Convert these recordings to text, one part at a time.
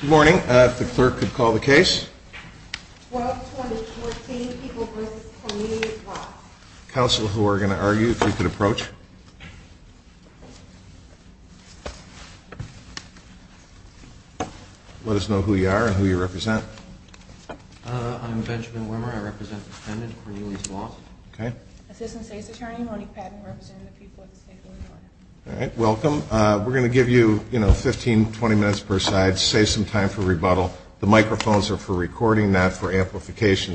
Good morning. If the clerk could call the case. 12-2014, People v. Cornelius Voss Counsel, who are going to argue, if you could approach. Let us know who you are and who you represent. I'm Benjamin Wimmer. I represent the defendant, Cornelius Voss. Assistant State's Attorney, Monique Patton, representing the people of the state of Illinois. All right. Welcome. We're going to give you, you know, 15, 20 minutes per side. Save some time for rebuttal. The microphones are for recording, not for amplification.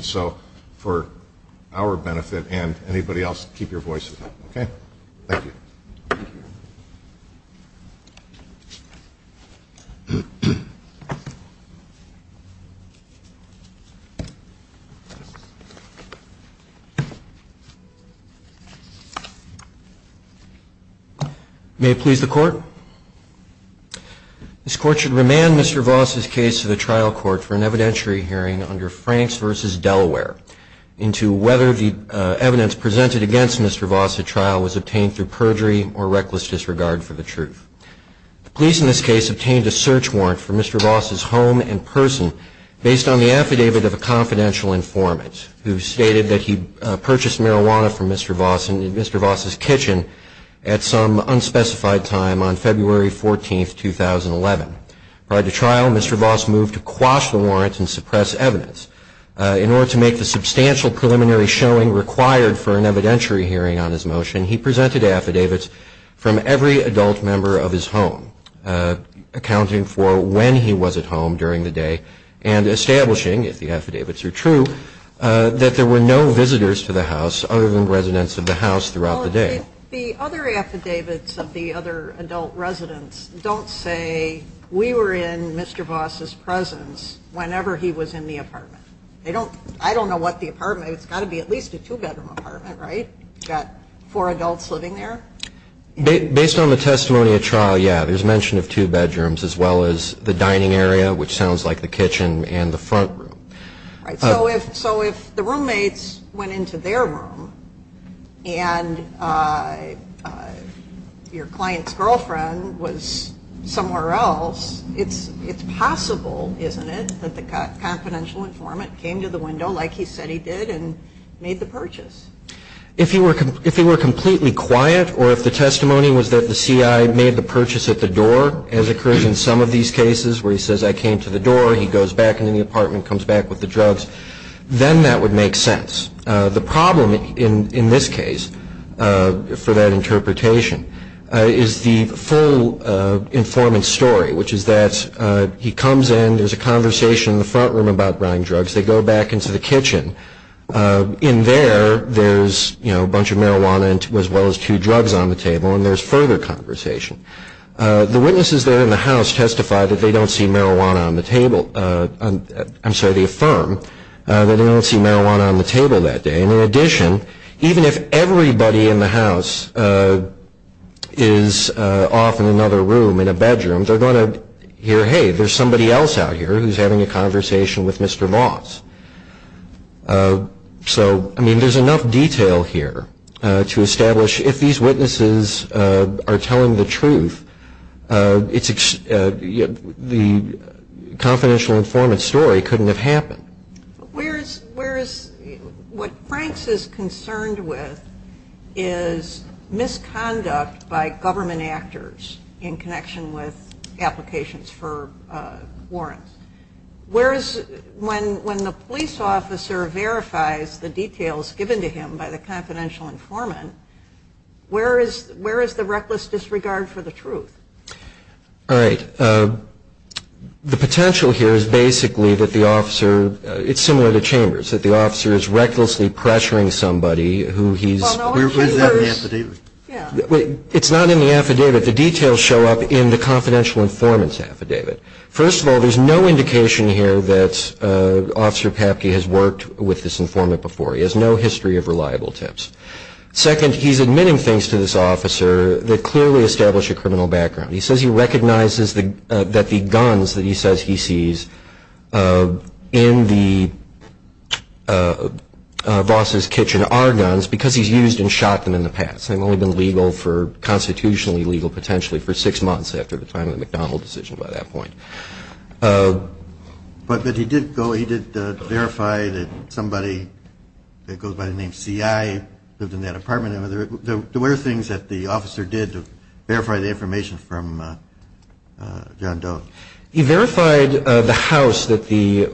May it please the Court. This Court should remand Mr. Voss' case to the trial court for an evidentiary hearing under Franks v. Delaware into whether the evidence presented against Mr. Voss at trial was obtained through perjury or reckless disregard for the truth. The police in this case obtained a search warrant for Mr. Voss' home and person based on the affidavit of a confidential informant who stated that he purchased marijuana from Mr. Voss in Mr. Voss' kitchen at some unspecified time on February 14, 2011. Prior to trial, Mr. Voss moved to quash the warrant and suppress evidence. In order to make the substantial preliminary showing required for an evidentiary hearing on his motion, he presented affidavits from every adult member of his home, accounting for when he was at home during the day and establishing, if the affidavits are true, that there were no visitors to the house other than residents of the house throughout the day. The other affidavits of the other adult residents don't say we were in Mr. Voss' presence whenever he was in the apartment. I don't know what the apartment is. It's got to be at least a two-bedroom apartment, right? You've got four adults living there? Based on the testimony at trial, yeah. There's mention of two bedrooms as well as the dining area, which sounds like the kitchen, and the front room. So if the roommates went into their room and your client's girlfriend was somewhere else, it's possible, isn't it, that the confidential informant came to the window like he said he did and made the purchase? If he were completely quiet or if the testimony was that the C.I. made the purchase at the door, as occurs in some of these cases where he says, I came to the door, he goes back into the apartment, comes back with the drugs, then that would make sense. The problem in this case for that interpretation is the full informant's story, which is that he comes in, there's a conversation in the front room about buying drugs, they go back into the kitchen. In there, there's a bunch of marijuana as well as two drugs on the table, and there's further conversation. The witnesses there in the house testify that they don't see marijuana on the table. I'm sorry, they affirm that they don't see marijuana on the table that day. And in addition, even if everybody in the house is off in another room in a bedroom, they're going to hear, hey, there's somebody else out here who's having a conversation with Mr. Voss. So, I mean, there's enough detail here to establish if these witnesses are telling the truth, the confidential informant's story couldn't have happened. Where is, what Franks is concerned with is misconduct by government actors in connection with applications for warrants. Where is, when the police officer verifies the details given to him by the confidential informant, where is the reckless disregard for the truth? All right. The potential here is basically that the officer, it's similar to Chambers, that the officer is recklessly pressuring somebody who he's... Where's that in the affidavit? It's not in the affidavit. The details show up in the confidential informant's affidavit. First of all, there's no indication here that Officer Papke has worked with this informant before. He has no history of reliable tips. Second, he's admitting things to this officer that clearly establish a criminal background. He says he recognizes that the guns that he says he sees in the Voss's kitchen are guns because he's used and shot them in the past. They've only been legal for, constitutionally legal potentially, for six months after the time of the McDonald decision by that point. But he did verify that somebody that goes by the name C.I. lived in that apartment. There were things that the officer did to verify the information from John Doe. He verified the house that the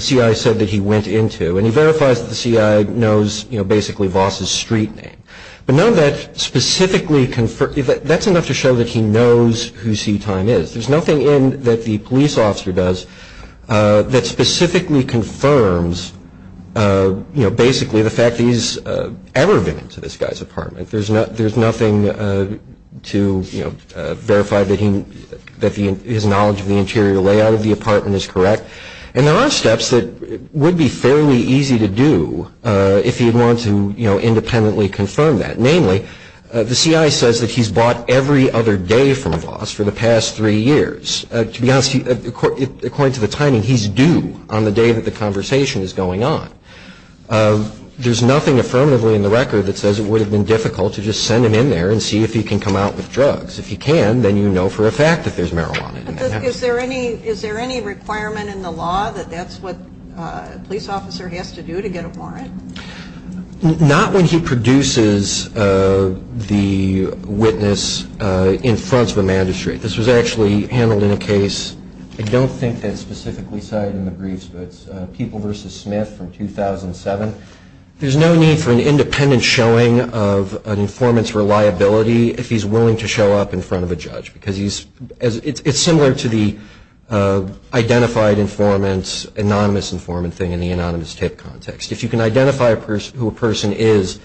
C.I. said that he went into and he verifies that the C.I. knows basically Voss's street name. That's enough to show that he knows who C.I. is. There's nothing in that the police officer does that specifically confirms, basically, the fact that he's ever been into this guy's apartment. There's nothing to verify that his knowledge of the interior layout of the apartment is correct. And there are steps that would be fairly easy to do if he wanted to independently confirm that. Namely, the C.I. says that he's bought every other day from Voss for the past three years. To be honest, according to the timing, he's due on the day that the conversation is going on. There's nothing affirmatively in the record that says it would have been difficult to just send him in there and see if he can come out with drugs. If he can, then you know for a fact that there's marijuana in there. Is there any requirement in the law that that's what a police officer has to do to get a warrant? Not when he produces the witness in front of a magistrate. This was actually handled in a case. I don't think that's specifically cited in the briefs, but it's People v. Smith from 2007. There's no need for an independent showing of an informant's reliability if he's willing to show up in front of a judge. It's similar to the identified informant, anonymous informant thing in the anonymous tip context. If you can identify who a person is,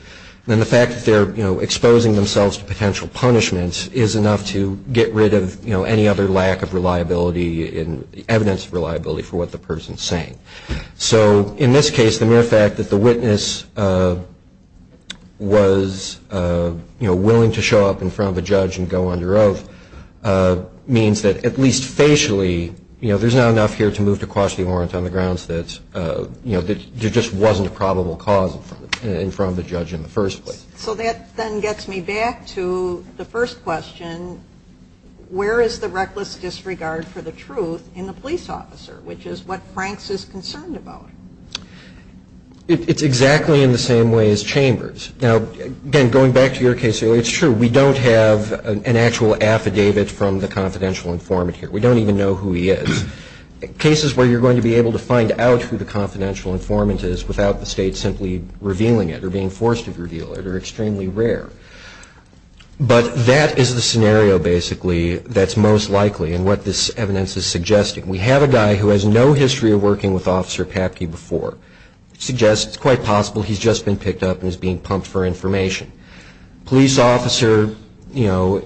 then the fact that they're exposing themselves to potential punishment is enough to get rid of any other lack of reliability and evidence of reliability for what the person is saying. So in this case, the mere fact that the witness was willing to show up in front of a judge and go under oath means that at least facially, you know, there's not enough here to move to cause the warrant on the grounds that, you know, there just wasn't a probable cause in front of the judge in the first place. So that then gets me back to the first question. Where is the reckless disregard for the truth in the police officer, which is what Franks is concerned about? It's exactly in the same way as Chambers. Now, again, going back to your case earlier, it's true. We don't have an actual affidavit from the confidential informant here. We don't even know who he is. Cases where you're going to be able to find out who the confidential informant is without the State simply revealing it or being forced to reveal it are extremely rare. But that is the scenario, basically, that's most likely and what this evidence is suggesting. We have a guy who has no history of working with Officer Papke before. Suggests it's quite possible he's just been picked up and is being pumped for information. Police officer, you know,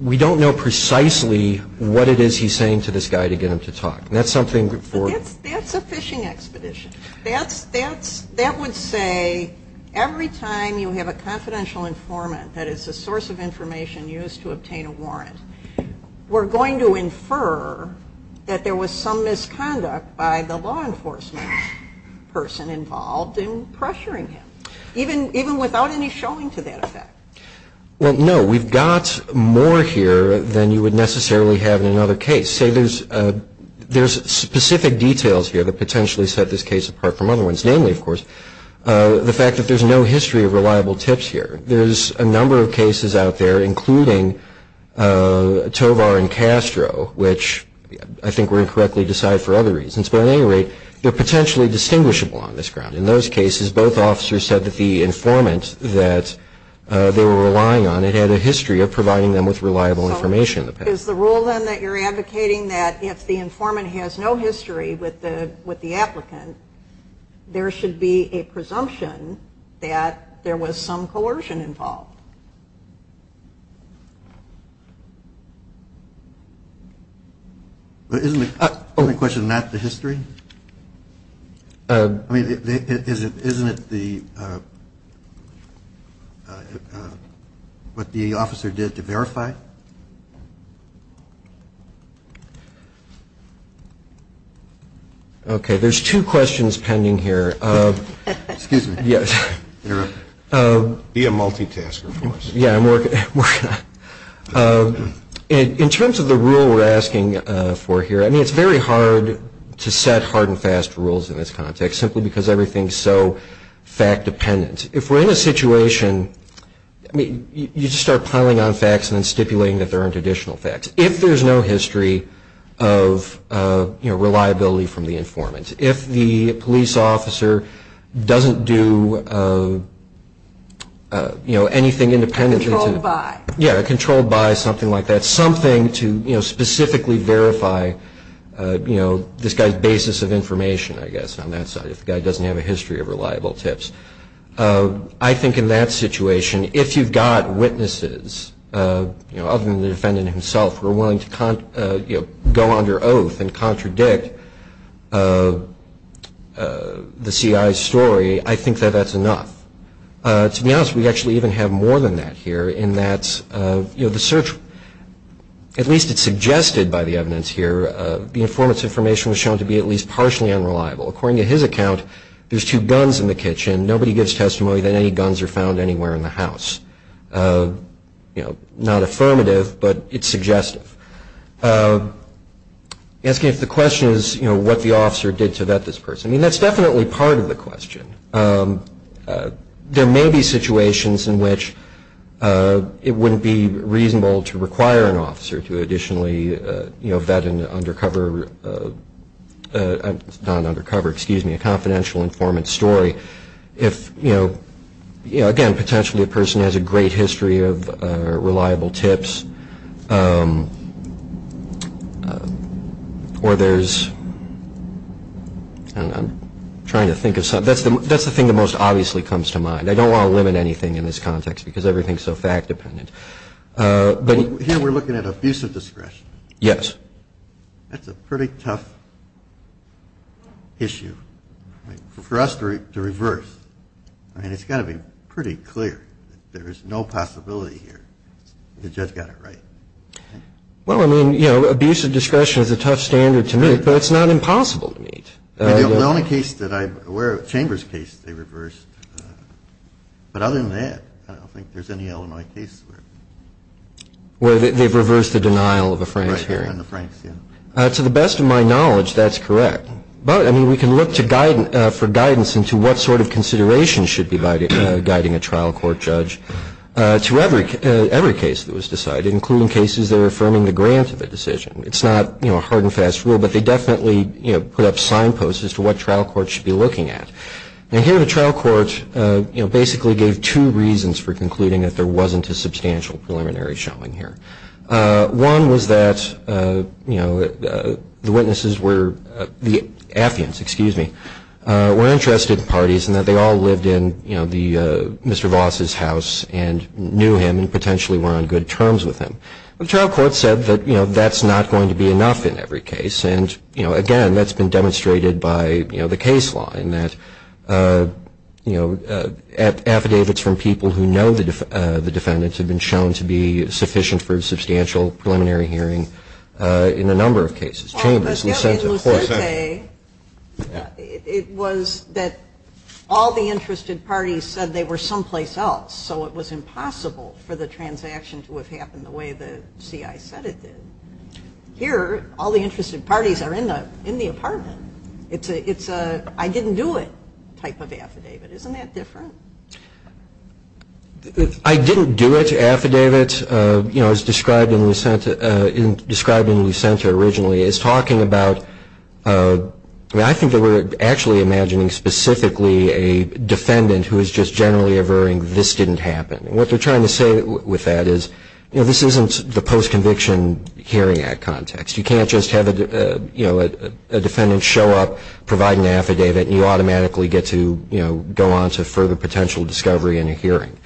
we don't know precisely what it is he's saying to this guy to get him to talk. That's something for... That's a fishing expedition. That would say every time you have a confidential informant, we're going to infer that there was some misconduct by the law enforcement person involved in pressuring him. Even without any showing to that effect. Well, no, we've got more here than you would necessarily have in another case. Say there's specific details here that potentially set this case apart from other ones. Namely, of course, the fact that there's no history of reliable tips here. There's a number of cases out there, including Tovar and Castro, which I think were incorrectly decided for other reasons. But at any rate, they're potentially distinguishable on this ground. In those cases, both officers said that the informant that they were relying on, it had a history of providing them with reliable information. Is the rule then that you're advocating that if the informant has no history with the applicant, there should be a presumption that there was some coercion involved? Isn't the question not the history? I mean, isn't it what the officer did to verify? Okay. There's two questions pending here. Excuse me. Be a multitasker for us. Yeah. In terms of the rule we're asking for here, I mean, it's very hard to set hard and fast rules in this context, simply because everything's so fact dependent. If we're in a situation, I mean, you just start piling on facts and then stipulating that there aren't additional facts. If there's no history of, you know, reliability from the informant, if the police officer doesn't do, you know, anything independently. Controlled by. Yeah. Controlled by something like that, something to, you know, specifically verify, you know, this guy's basis of information, I guess, on that side. If the guy doesn't have a history of reliable tips. I think in that situation, if you've got witnesses, you know, other than the defendant himself who are willing to, you know, go under oath and contradict the CI's story, I think that that's enough. To be honest, we actually even have more than that here in that, you know, the search, at least it's suggested by the evidence here, the informant's information was shown to be at least partially unreliable. According to his account, there's two guns in the kitchen, nobody gives testimony that any guns are found anywhere in the house. You know, not affirmative, but it's suggestive. Asking if the question is, you know, what the officer did to vet this person. I mean, that's definitely part of the question. There may be situations in which it wouldn't be reasonable to require an officer to additionally, you know, vet an undercover, not an undercover, excuse me, a confidential informant's story if, you know, again, potentially a person has a great history of reliable tips. Or there's, I don't know, I'm trying to think of something. That's the thing that most obviously comes to mind. I don't want to limit anything in this context because everything is so fact dependent. Here we're looking at abuse of discretion. Yes. That's a pretty tough issue for us to reverse. I mean, it's got to be pretty clear that there is no possibility here the judge got it right. Well, I mean, you know, abuse of discretion is a tough standard to meet, but it's not impossible to meet. The only case that I'm aware of, Chambers' case, they reversed. But other than that, I don't think there's any Illinois case where. Where they've reversed the denial of a Franks hearing. Right behind the Franks, yeah. To the best of my knowledge, that's correct. But, I mean, we can look for guidance into what sort of consideration should be by guiding a trial court judge to every case that was decided, including cases that are affirming the grant of a decision. It's not, you know, a hard and fast rule, but they definitely, you know, put up signposts as to what trial courts should be looking at. And here the trial court, you know, basically gave two reasons for concluding that there wasn't a substantial preliminary showing here. One was that, you know, the witnesses were, the Affians, excuse me, were interested parties and that they all lived in, you know, the Mr. Voss' house and knew him and potentially were on good terms with him. The trial court said that, you know, that's not going to be enough in every case. And, you know, again, that's been demonstrated by, you know, the case law in that, you know, affidavits from people who know the defendants have been shown to be sufficient for a substantial preliminary hearing in a number of cases. Chambers, Lucente, of course. In Lucente, it was that all the interested parties said they were someplace else, so it was impossible for the transaction to have happened the way the CI said it did. Here, all the interested parties are in the apartment. It's a I didn't do it type of affidavit. Isn't that different? I didn't do it affidavit, you know, as described in Lucente originally, is talking about, I mean, I think that we're actually imagining specifically a defendant who is just generally averring this didn't happen. And what they're trying to say with that is, you know, this isn't the post-conviction hearing act context. You can't just have, you know, a defendant show up, provide an affidavit, and you automatically get to, you know, go on to further potential discovery in a hearing.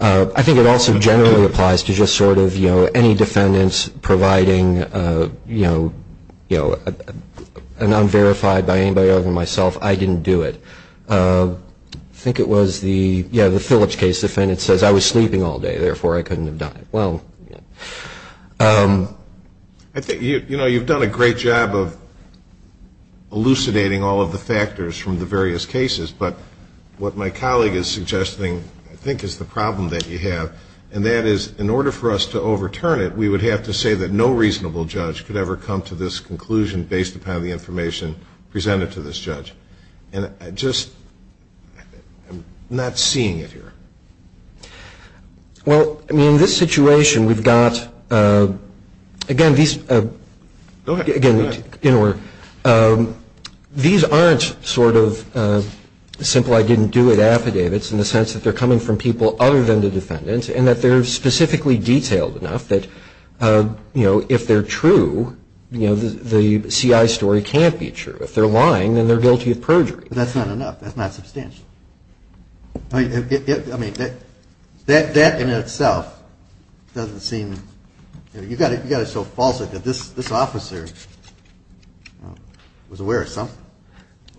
I think it also generally applies to just sort of, you know, any defendants providing, you know, an unverified by anybody other than myself, I didn't do it. I think it was the, yeah, the Phillips case defendant says, I was sleeping all day, therefore I couldn't have done it. Well, you know. I think, you know, you've done a great job of elucidating all of the factors from the various cases, but what my colleague is suggesting I think is the problem that you have, and that is in order for us to overturn it, we would have to say that no reasonable judge could ever come to this conclusion based upon the information presented to this judge. And I just, I'm not seeing it here. Well, I mean, in this situation, we've got, again, these, again, you know, these aren't sort of simple I didn't do it affidavits in the sense that they're coming from people other than the defendant and that they're specifically detailed enough that, you know, if they're true, you know, the CI story can't be true. If they're lying, then they're guilty of perjury. That's not enough. That's not substantial. I mean, that in itself doesn't seem, you know, you've got it so false that this officer was aware of something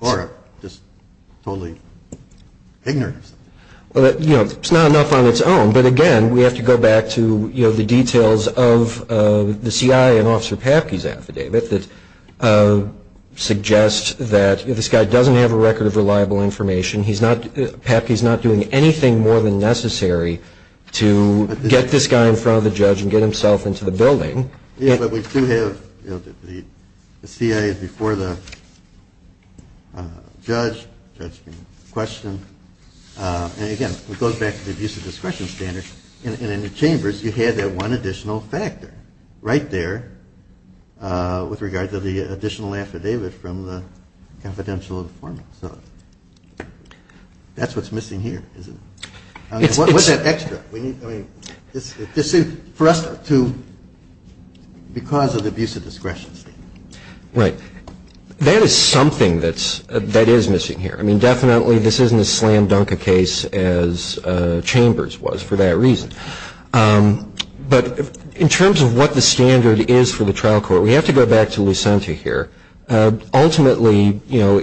or just totally ignorant of something. Well, you know, it's not enough on its own, but, again, we have to go back to, you know, the details of the CI in Officer Papke's affidavit that suggests that this guy doesn't have a record of reliable information. He's not, Papke's not doing anything more than necessary to get this guy in front of the judge and get himself into the building. Yeah, but we do have, you know, the CI before the judge, judge being questioned. And, again, it goes back to the abuse of discretion standard. And in the chambers, you had that one additional factor right there with regard to the additional affidavit from the confidential informant. So that's what's missing here, isn't it? I mean, what's that extra? I mean, this seems, for us to, because of the abuse of discretion standard. Right. That is something that's, that is missing here. I mean, definitely this isn't as slam dunk a case as chambers was for that reason. But in terms of what the standard is for the trial court, we have to go back to Lucente here. Ultimately, you know,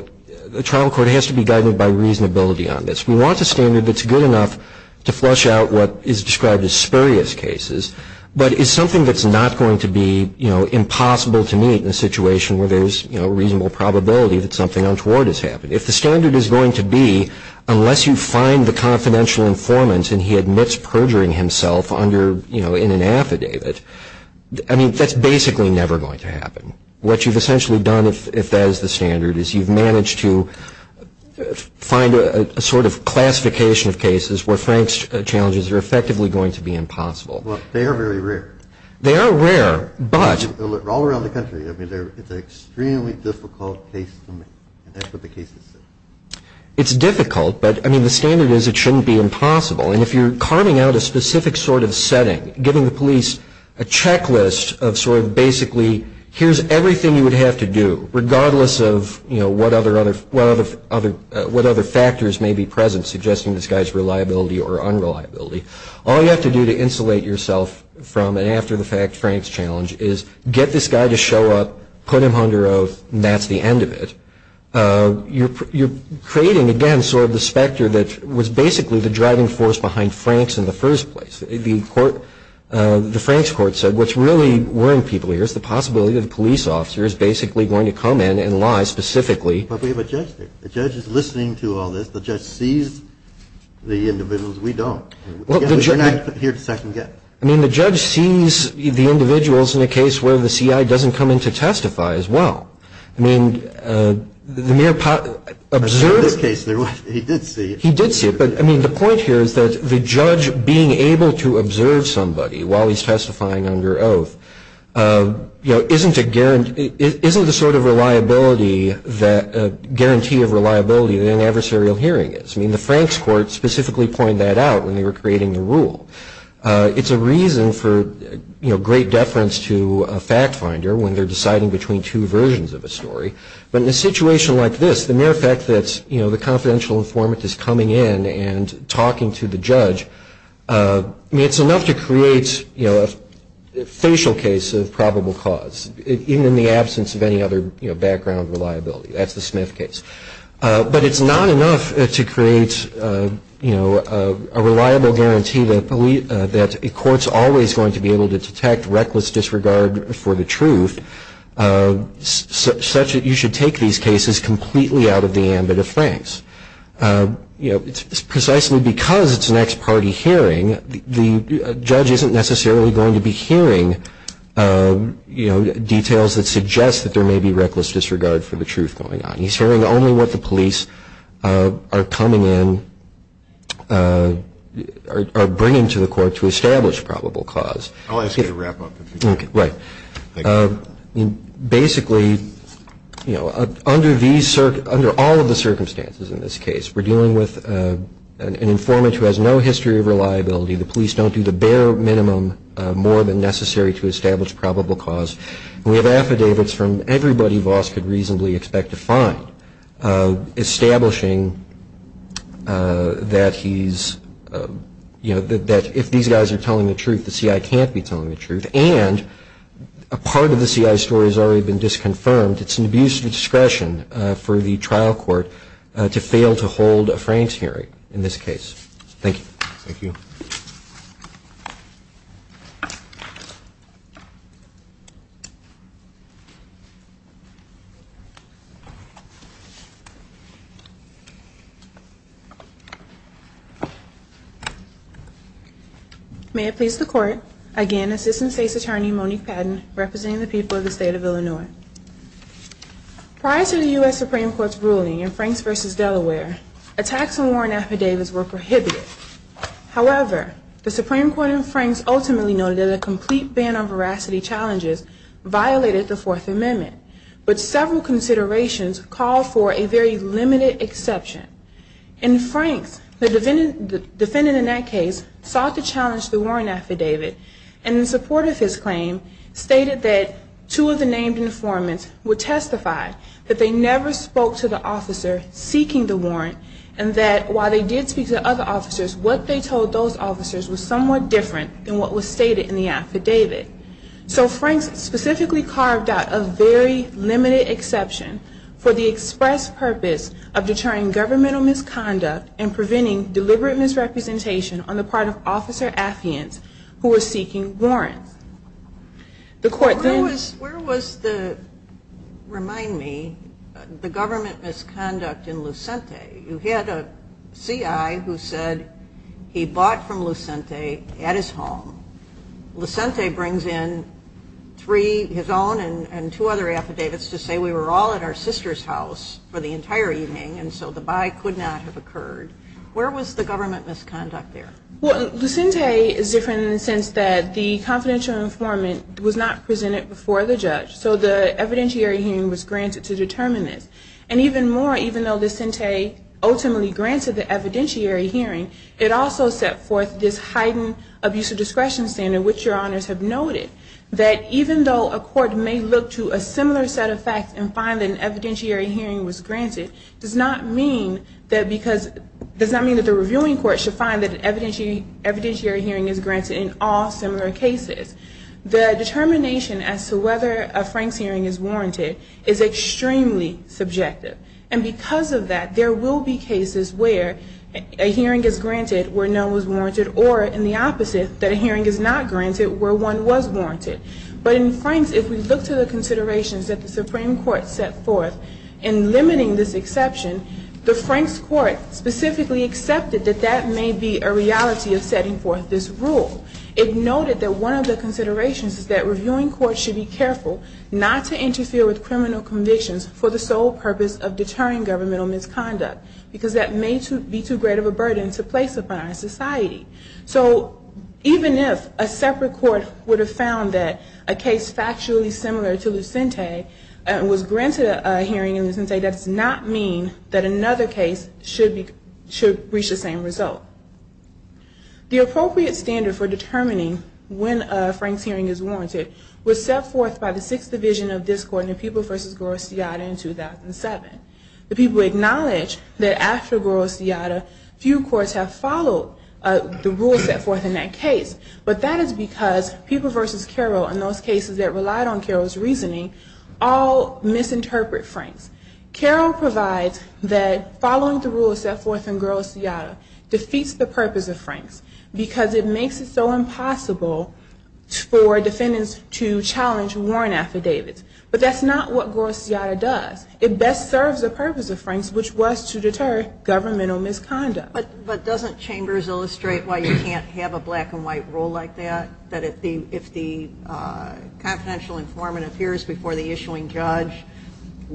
the trial court has to be guided by reasonability on this. We want a standard that's good enough to flush out what is described as spurious cases, but is something that's not going to be, you know, impossible to meet in a situation where there's, you know, reasonable probability that something untoward has happened. If the standard is going to be, unless you find the confidential informant and he admits perjuring himself under, you know, in an affidavit, I mean, that's basically never going to happen. What you've essentially done, if that is the standard, is you've managed to find a sort of classification of cases where Frank's challenges are effectively going to be impossible. Well, they are very rare. They are rare, but. All around the country. I mean, it's an extremely difficult case to make. And that's what the cases say. It's difficult, but, I mean, the standard is it shouldn't be impossible. And if you're carving out a specific sort of setting, giving the police a checklist of sort of basically here's everything you would have to do, regardless of, you know, what other factors may be present suggesting this guy's reliability or unreliability, all you have to do to insulate yourself from and after the fact Frank's challenge is get this guy to show up, put him under oath, and that's the end of it, you're creating, again, sort of the specter that was basically the driving force behind Frank's in the first place. The court, the Frank's court said what's really worrying people here is the possibility that a police officer is basically going to come in and lie specifically. But we have a judge there. The judge is listening to all this. The judge sees the individuals. We don't. We're not here to second guess. I mean, the judge sees the individuals in a case where the CI doesn't come in to testify as well. I mean, the mere observation. In this case, he did see it. He did see it. But, I mean, the point here is that the judge being able to observe somebody while he's testifying under oath, you know, isn't a guarantee, isn't the sort of reliability that, guarantee of reliability that an adversarial hearing is. I mean, the Frank's court specifically pointed that out when they were creating the rule. It's a reason for, you know, great deference to a fact finder when they're deciding between two versions of a story. But in a situation like this, the mere fact that, you know, the confidential informant is coming in and talking to the judge, I mean, it's enough to create, you know, a facial case of probable cause, even in the absence of any other, you know, background reliability. That's the Smith case. But it's not enough to create, you know, a reliable guarantee that a court's always going to be able to detect reckless disregard for the truth, such that you should take these cases completely out of the ambit of Frank's. You know, it's precisely because it's an ex-party hearing, the judge isn't necessarily going to be hearing, you know, details that suggest that there may be reckless disregard for the truth going on. He's hearing only what the police are coming in or bringing to the court to establish probable cause. I'll ask you to wrap up. Right. Basically, you know, under all of the circumstances in this case, we're dealing with an informant who has no history of reliability. The police don't do the bare minimum more than necessary to establish probable cause. We have affidavits from everybody Voss could reasonably expect to find establishing that he's, you know, that if these guys are telling the truth, the CI can't be telling the truth. And a part of the CI's story has already been disconfirmed. It's an abuse of discretion for the trial court to fail to hold a Frank's hearing in this case. Thank you. Thank you. Thank you. May it please the court. Again, Assistant State's Attorney Monique Padden representing the people of the state of Illinois. Prior to the U.S. Supreme Court's ruling in Franks v. Delaware, attacks on warrant affidavits were prohibited. However, the Supreme Court in Franks ultimately noted that a complete ban on veracity challenges violated the Fourth Amendment. But several considerations call for a very limited exception. In Franks, the defendant in that case sought to challenge the warrant affidavit. And in support of his claim, stated that two of the named informants would testify that they never spoke to the officer seeking the warrant and that while they did speak to other officers, what they told those officers was somewhat different than what was stated in the affidavit. So Franks specifically carved out a very limited exception for the express purpose of deterring governmental misconduct and preventing deliberate misrepresentation on the part of officer affidavits who were seeking warrants. The court then. Where was the, remind me, the government misconduct in Lucente? You had a C.I. who said he bought from Lucente at his home. Lucente brings in three, his own and two other affidavits to say we were all at our sister's house for the entire evening and so the buy could not have occurred. Where was the government misconduct there? Well, Lucente is different in the sense that the confidential informant was not presented before the judge. So the evidentiary hearing was granted to determine this. And even more, even though Lucente ultimately granted the evidentiary hearing, it also set forth this heightened abuse of discretion standard, which your honors have noted, that even though a court may look to a similar set of facts and find that an evidentiary hearing was granted, does not mean that the reviewing court should find that an evidentiary hearing is granted in all similar cases. The determination as to whether a Franks hearing is warranted is extremely subjective. And because of that, there will be cases where a hearing is granted where no one was warranted or in the opposite, that a hearing is not granted where one was warranted. But in Franks, if we look to the considerations that the Supreme Court set forth in limiting this exception, the Franks court specifically accepted that that may be a reality of setting forth this rule. It noted that one of the considerations is that reviewing courts should be careful not to interfere with criminal convictions for the sole purpose of deterring governmental misconduct because that may be too great of a burden to place upon our society. So even if a separate court would have found that a case factually similar to Lucente was granted a hearing in Lucente, that does not mean that another case should reach the same result. The appropriate standard for determining when a Franks hearing is warranted was set forth by the Sixth Division of this court in the People v. Gorosciata in 2007. The people acknowledge that after Gorosciata, few courts have followed the rules set forth in that case. But that is because People v. Carroll and those cases that relied on Carroll's reasoning all misinterpret Franks. Carroll provides that following the rules set forth in Gorosciata defeats the purpose of Franks because it makes it so impossible for defendants to challenge warrant affidavits. But that's not what Gorosciata does. It best serves the purpose of Franks, which was to deter governmental misconduct. But doesn't Chambers illustrate why you can't have a black-and-white rule like that, that if the confidential informant appears before the issuing judge,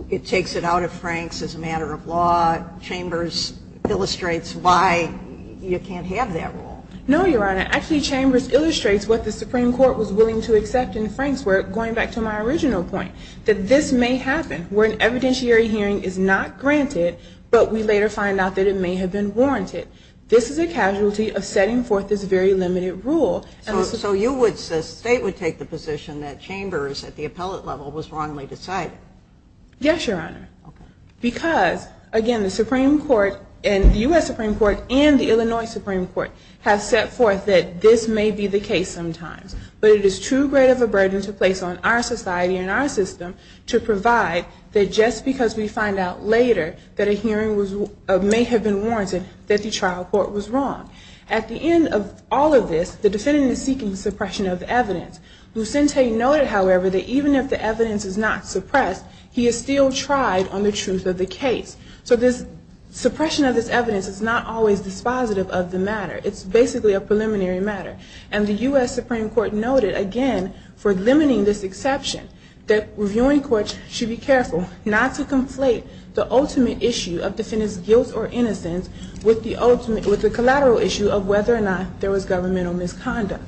it takes it out of Franks as a matter of law? Chambers illustrates why you can't have that rule. No, Your Honor. Actually, Chambers illustrates what the Supreme Court was willing to accept in Franks, going back to my original point, that this may happen where an evidentiary hearing is not granted, but we later find out that it may have been warranted. This is a casualty of setting forth this very limited rule. So you would say the State would take the position that Chambers, at the appellate level, was wrongly decided? Yes, Your Honor. Because, again, the Supreme Court and the U.S. Supreme Court and the Illinois Supreme Court have set forth that this may be the case sometimes, but it is too great of a burden to place on our society and our system to provide that just because we find out later that a hearing may have been warranted, that the trial court was wrong. At the end of all of this, the defendant is seeking suppression of evidence. Lucente noted, however, that even if the evidence is not suppressed, he is still tried on the truth of the case. So this suppression of this evidence is not always dispositive of the matter. It's basically a preliminary matter. And the U.S. Supreme Court noted, again, for limiting this exception, that reviewing courts should be careful not to conflate the ultimate issue of defendant's guilt or innocence with the collateral issue of whether or not there was governmental misconduct.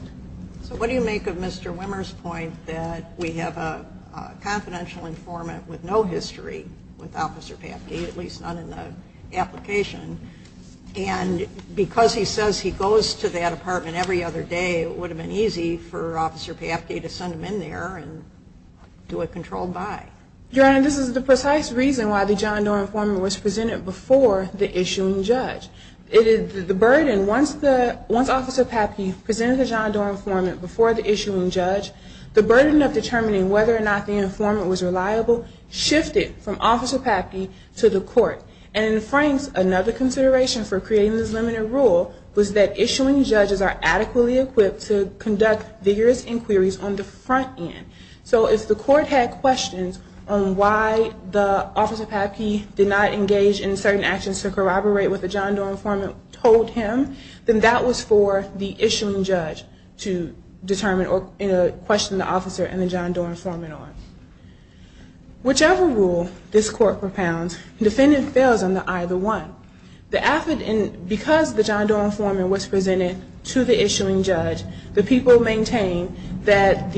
So what do you make of Mr. Wimmer's point that we have a confidential informant with no history with Officer Papke, at least not in the application, and because he says he goes to that apartment every other day, it would have been easy for Officer Papke to send him in there and do a controlled buy. Your Honor, this is the precise reason why the John Doar informant was presented before the issuing judge. The burden, once Officer Papke presented the John Doar informant before the issuing judge, the burden of determining whether or not the informant was reliable shifted from Officer Papke to the court. And in France, another consideration for creating this limited rule was that issuing judges are adequately equipped to conduct vigorous inquiries on the front end. So if the court had questions on why the Officer Papke did not engage in certain actions to corroborate what the John Doar informant told him, then that was for the issuing judge to determine or question the officer and the John Doar informant on. Whichever rule this court propounds, the defendant fails on either one. Because the John Doar informant was presented to the issuing judge, the people maintain that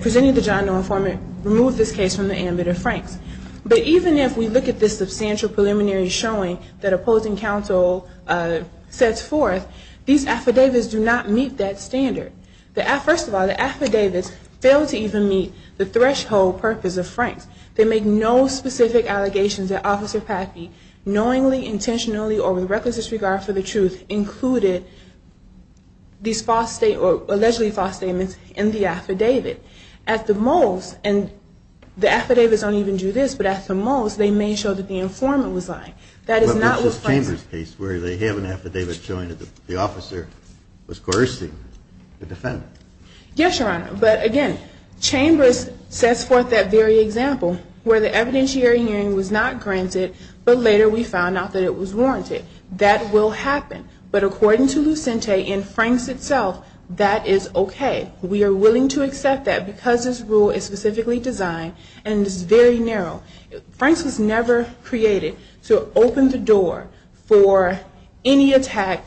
presenting the John Doar informant removed this case from the ambit of Franks. But even if we look at this substantial preliminary showing that opposing counsel sets forth, these affidavits do not meet that standard. First of all, the affidavits fail to even meet the threshold purpose of Franks. They make no specific allegations that Officer Papke knowingly, intentionally, or with reckless disregard for the truth included these allegedly false statements in the affidavit. At the most, and the affidavits don't even do this, but at the most, they may show that the informant was lying. That is not with Franks. But this is Chambers' case where they have an affidavit showing that the officer was coercing the defendant. Yes, Your Honor. But again, Chambers sets forth that very example where the evidentiary hearing was not granted, but later we found out that it was warranted. That will happen. But according to Lucente, in Franks itself, that is okay. We are willing to accept that because this rule is specifically designed, and this is very narrow. Franks was never created to open the door for any attack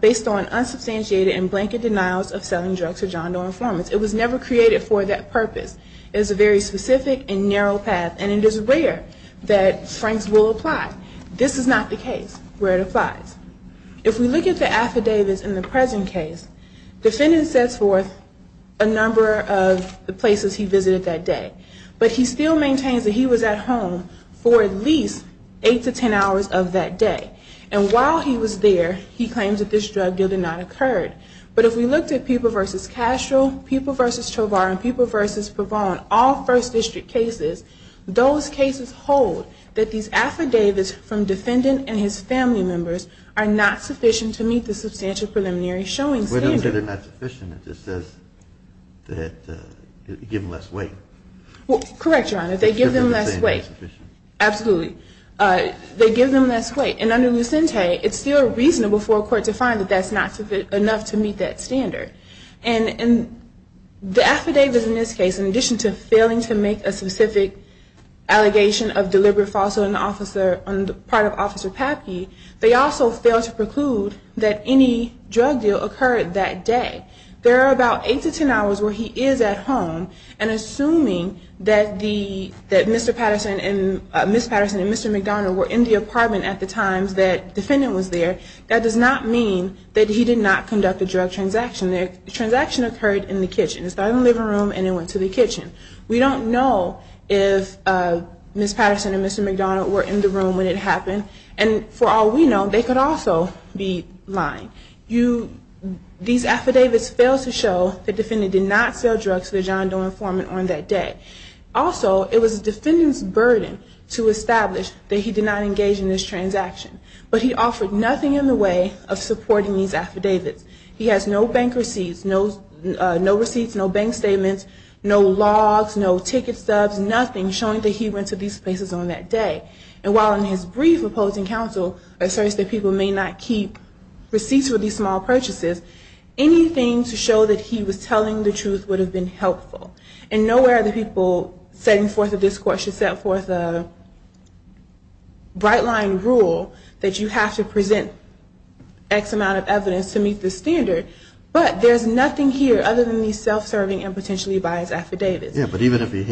based on unsubstantiated and blanket denials of selling drugs to John Doe informants. It was never created for that purpose. It is a very specific and narrow path, and it is rare that Franks will apply. This is not the case where it applies. If we look at the affidavits in the present case, the defendant sets forth a number of the places he visited that day. But he still maintains that he was at home for at least 8 to 10 hours of that day. And while he was there, he claims that this drug deal did not occur. But if we looked at Peeble v. Castro, Peeble v. Chovar, and Peeble v. Pavon, all first district cases, those cases hold that these affidavits from defendant and his family members are not sufficient to meet the substantial preliminary showing standard. They're not sufficient. It just says that you give them less weight. Correct, Your Honor. They give them less weight. Absolutely. They give them less weight. And under Lucente, it's still reasonable for a court to find that that's not enough to meet that standard. And the affidavits in this case, in addition to failing to make a specific allegation of deliberate falsehood on the part of Officer Papke, they also fail to preclude that any drug deal occurred that day. There are about 8 to 10 hours where he is at home. And assuming that Mr. Patterson and Ms. Patterson and Mr. McDonough were in the apartment at the times that defendant was there, that does not mean that he did not conduct a drug transaction. The transaction occurred in the kitchen. It started in the living room and it went to the kitchen. We don't know if Ms. Patterson and Mr. McDonough were in the room when it happened. And for all we know, they could also be lying. These affidavits fail to show the defendant did not sell drugs to the John Doe informant on that day. Also, it was the defendant's burden to establish that he did not engage in this transaction. But he offered nothing in the way of supporting these affidavits. He has no bank receipts, no receipts, no bank statements, no logs, no ticket stubs, nothing showing that he went to these places on that day. And while in his brief opposing counsel asserts that people may not keep receipts for these small purchases, anything to show that he was telling the truth would have been helpful. And nowhere are the people setting forth a discourse or set forth a bright line rule that you have to present X amount of evidence to meet the standard. But there's nothing here other than these self-serving and potentially biased affidavits. Yeah, but even if he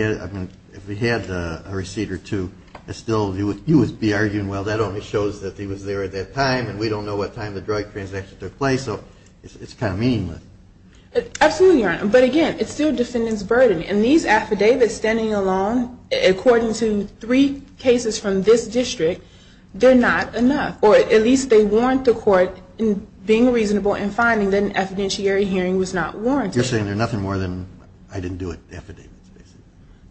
had a receipt or two, you would be arguing, well, that only shows that he was there at that time and we don't know what time the drug transaction took place. So it's kind of meaningless. Absolutely, Your Honor. But again, it's still the defendant's burden. And these affidavits standing alone, according to three cases from this district, they're not enough. Or at least they warrant the court being reasonable in finding that an evidentiary hearing was not warranted. You're saying they're nothing more than, I didn't do it, affidavits, basically.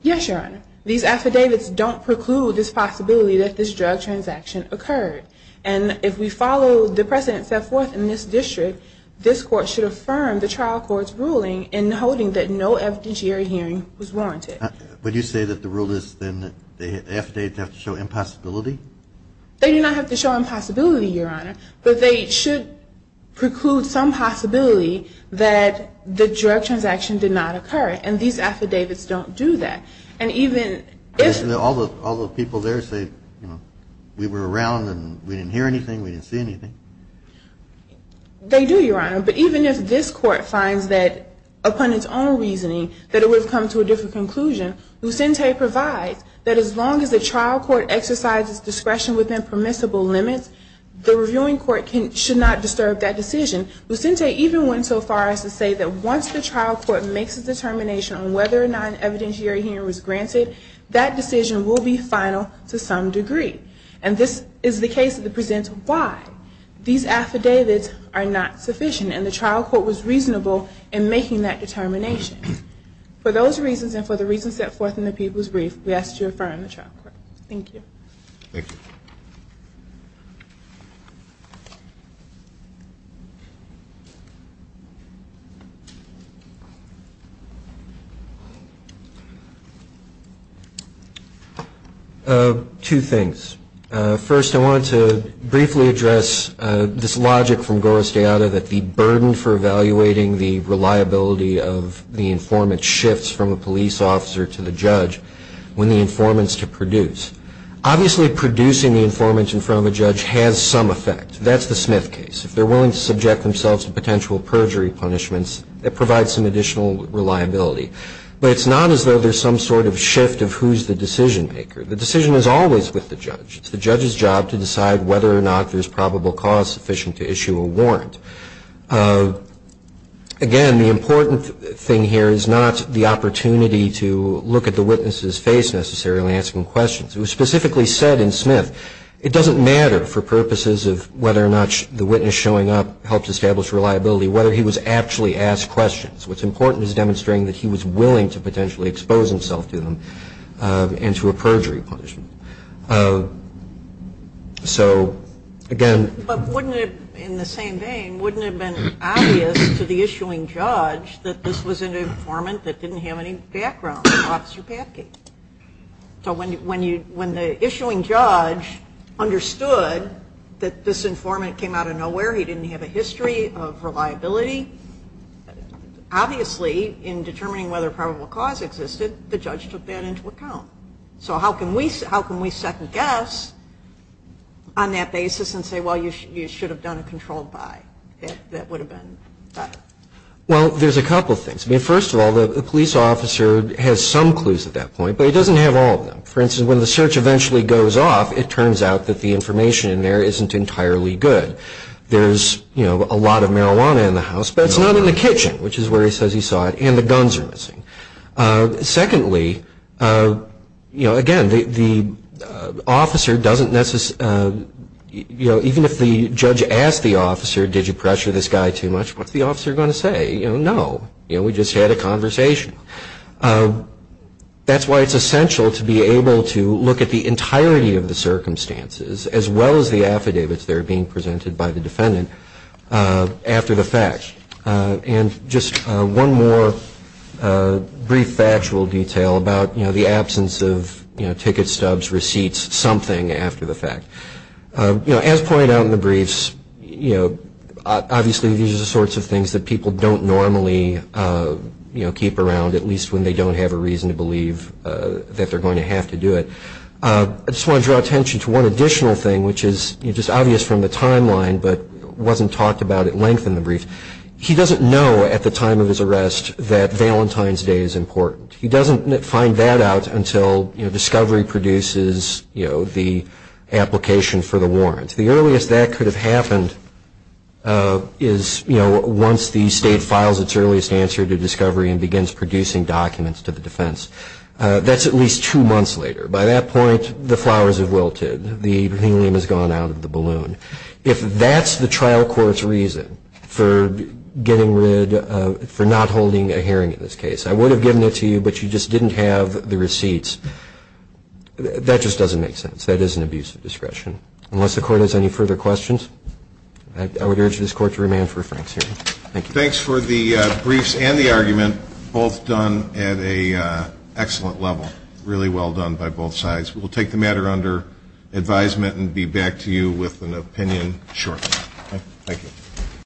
Yes, Your Honor. These affidavits don't preclude this possibility that this drug transaction occurred. And if we follow the precedent set forth in this district, this Court should affirm the trial court's ruling in holding that no evidentiary hearing was warranted. But you say that the rule is then that the affidavits have to show impossibility? They do not have to show impossibility, Your Honor. But they should preclude some possibility that the drug transaction did not occur. And these affidavits don't do that. And even if... All the people there say, you know, we were around and we didn't hear anything, we didn't see anything. They do, Your Honor. But even if this Court finds that, upon its own reasoning, that it would have come to a different conclusion, Lucente provides that as long as the trial court exercises discretion within permissible limits, the reviewing court should not disturb that decision. Lucente even went so far as to say that once the trial court makes a determination on whether or not an evidentiary hearing was granted, that decision will be final to some degree. And this is the case that presents why. These affidavits are not sufficient. And the trial court was reasonable in making that determination. For those reasons and for the reasons set forth in the People's Brief, we ask that you affirm the trial court. Thank you. Thank you. Two things. First, I wanted to briefly address this logic from Goro Steada that the burden for evaluating the reliability of the informant shifts from a police officer to the judge when the informant is to produce. Obviously, producing the informant in front of a judge has some effect. That's the Smith case. If they're willing to subject themselves to potential perjury punishments, it provides some additional reliability. But it's not as though there's some sort of shift of who's the decision maker. The decision is always with the judge. It's the judge's job to decide whether or not there's probable cause sufficient to issue a warrant. Again, the important thing here is not the opportunity to look at the witness's face necessarily when asking questions. It was specifically said in Smith, it doesn't matter for purposes of whether or not the witness showing up helps establish reliability whether he was actually asked questions. What's important is demonstrating that he was willing to potentially expose himself to them and to a perjury punishment. So, again... But wouldn't it, in the same vein, wouldn't it have been obvious to the issuing judge that this was an informant that didn't have any background? Officer Patgate. So when the issuing judge understood that this informant came out of nowhere, he didn't have a history of reliability, obviously in determining whether probable cause existed, the judge took that into account. So how can we second guess on that basis and say, well, you should have done a controlled buy? That would have been better. Well, there's a couple of things. First of all, the police officer has some clues at that point, but he doesn't have all of them. For instance, when the search eventually goes off, it turns out that the information in there isn't entirely good. There's a lot of marijuana in the house, but it's not in the kitchen, which is where he says he saw it, and the guns are missing. Secondly, you know, again, the officer doesn't necessarily, you know, even if the judge asked the officer, did you pressure this guy too much, what's the officer going to say? You know, no. You know, we just had a conversation. That's why it's essential to be able to look at the entirety of the circumstances, as well as the affidavits that are being presented by the defendant, after the fact. And just one more brief factual detail about, you know, the absence of, you know, tickets, stubs, receipts, something after the fact. You know, as pointed out in the briefs, you know, obviously these are the sorts of things that people don't normally, you know, keep around, at least when they don't have a reason to believe that they're going to have to do it. I just want to draw attention to one additional thing, which is just obvious from the timeline, but wasn't talked about at length in the brief. He doesn't know at the time of his arrest that Valentine's Day is important. He doesn't find that out until, you know, discovery produces, you know, the application for the warrant. The earliest that could have happened is, you know, once the state files its earliest answer to discovery and begins producing documents to the defense. That's at least two months later. By that point, the flowers have wilted. The helium has gone out of the balloon. If that's the trial court's reason for getting rid of, for not holding a hearing in this case, I would have given it to you, but you just didn't have the receipts. That just doesn't make sense. That is an abuse of discretion. Unless the Court has any further questions, I would urge this Court to remain for a frank hearing. Thank you. Thanks for the briefs and the argument, both done at an excellent level, really well done by both sides. We'll take the matter under advisement and be back to you with an opinion shortly. Thank you.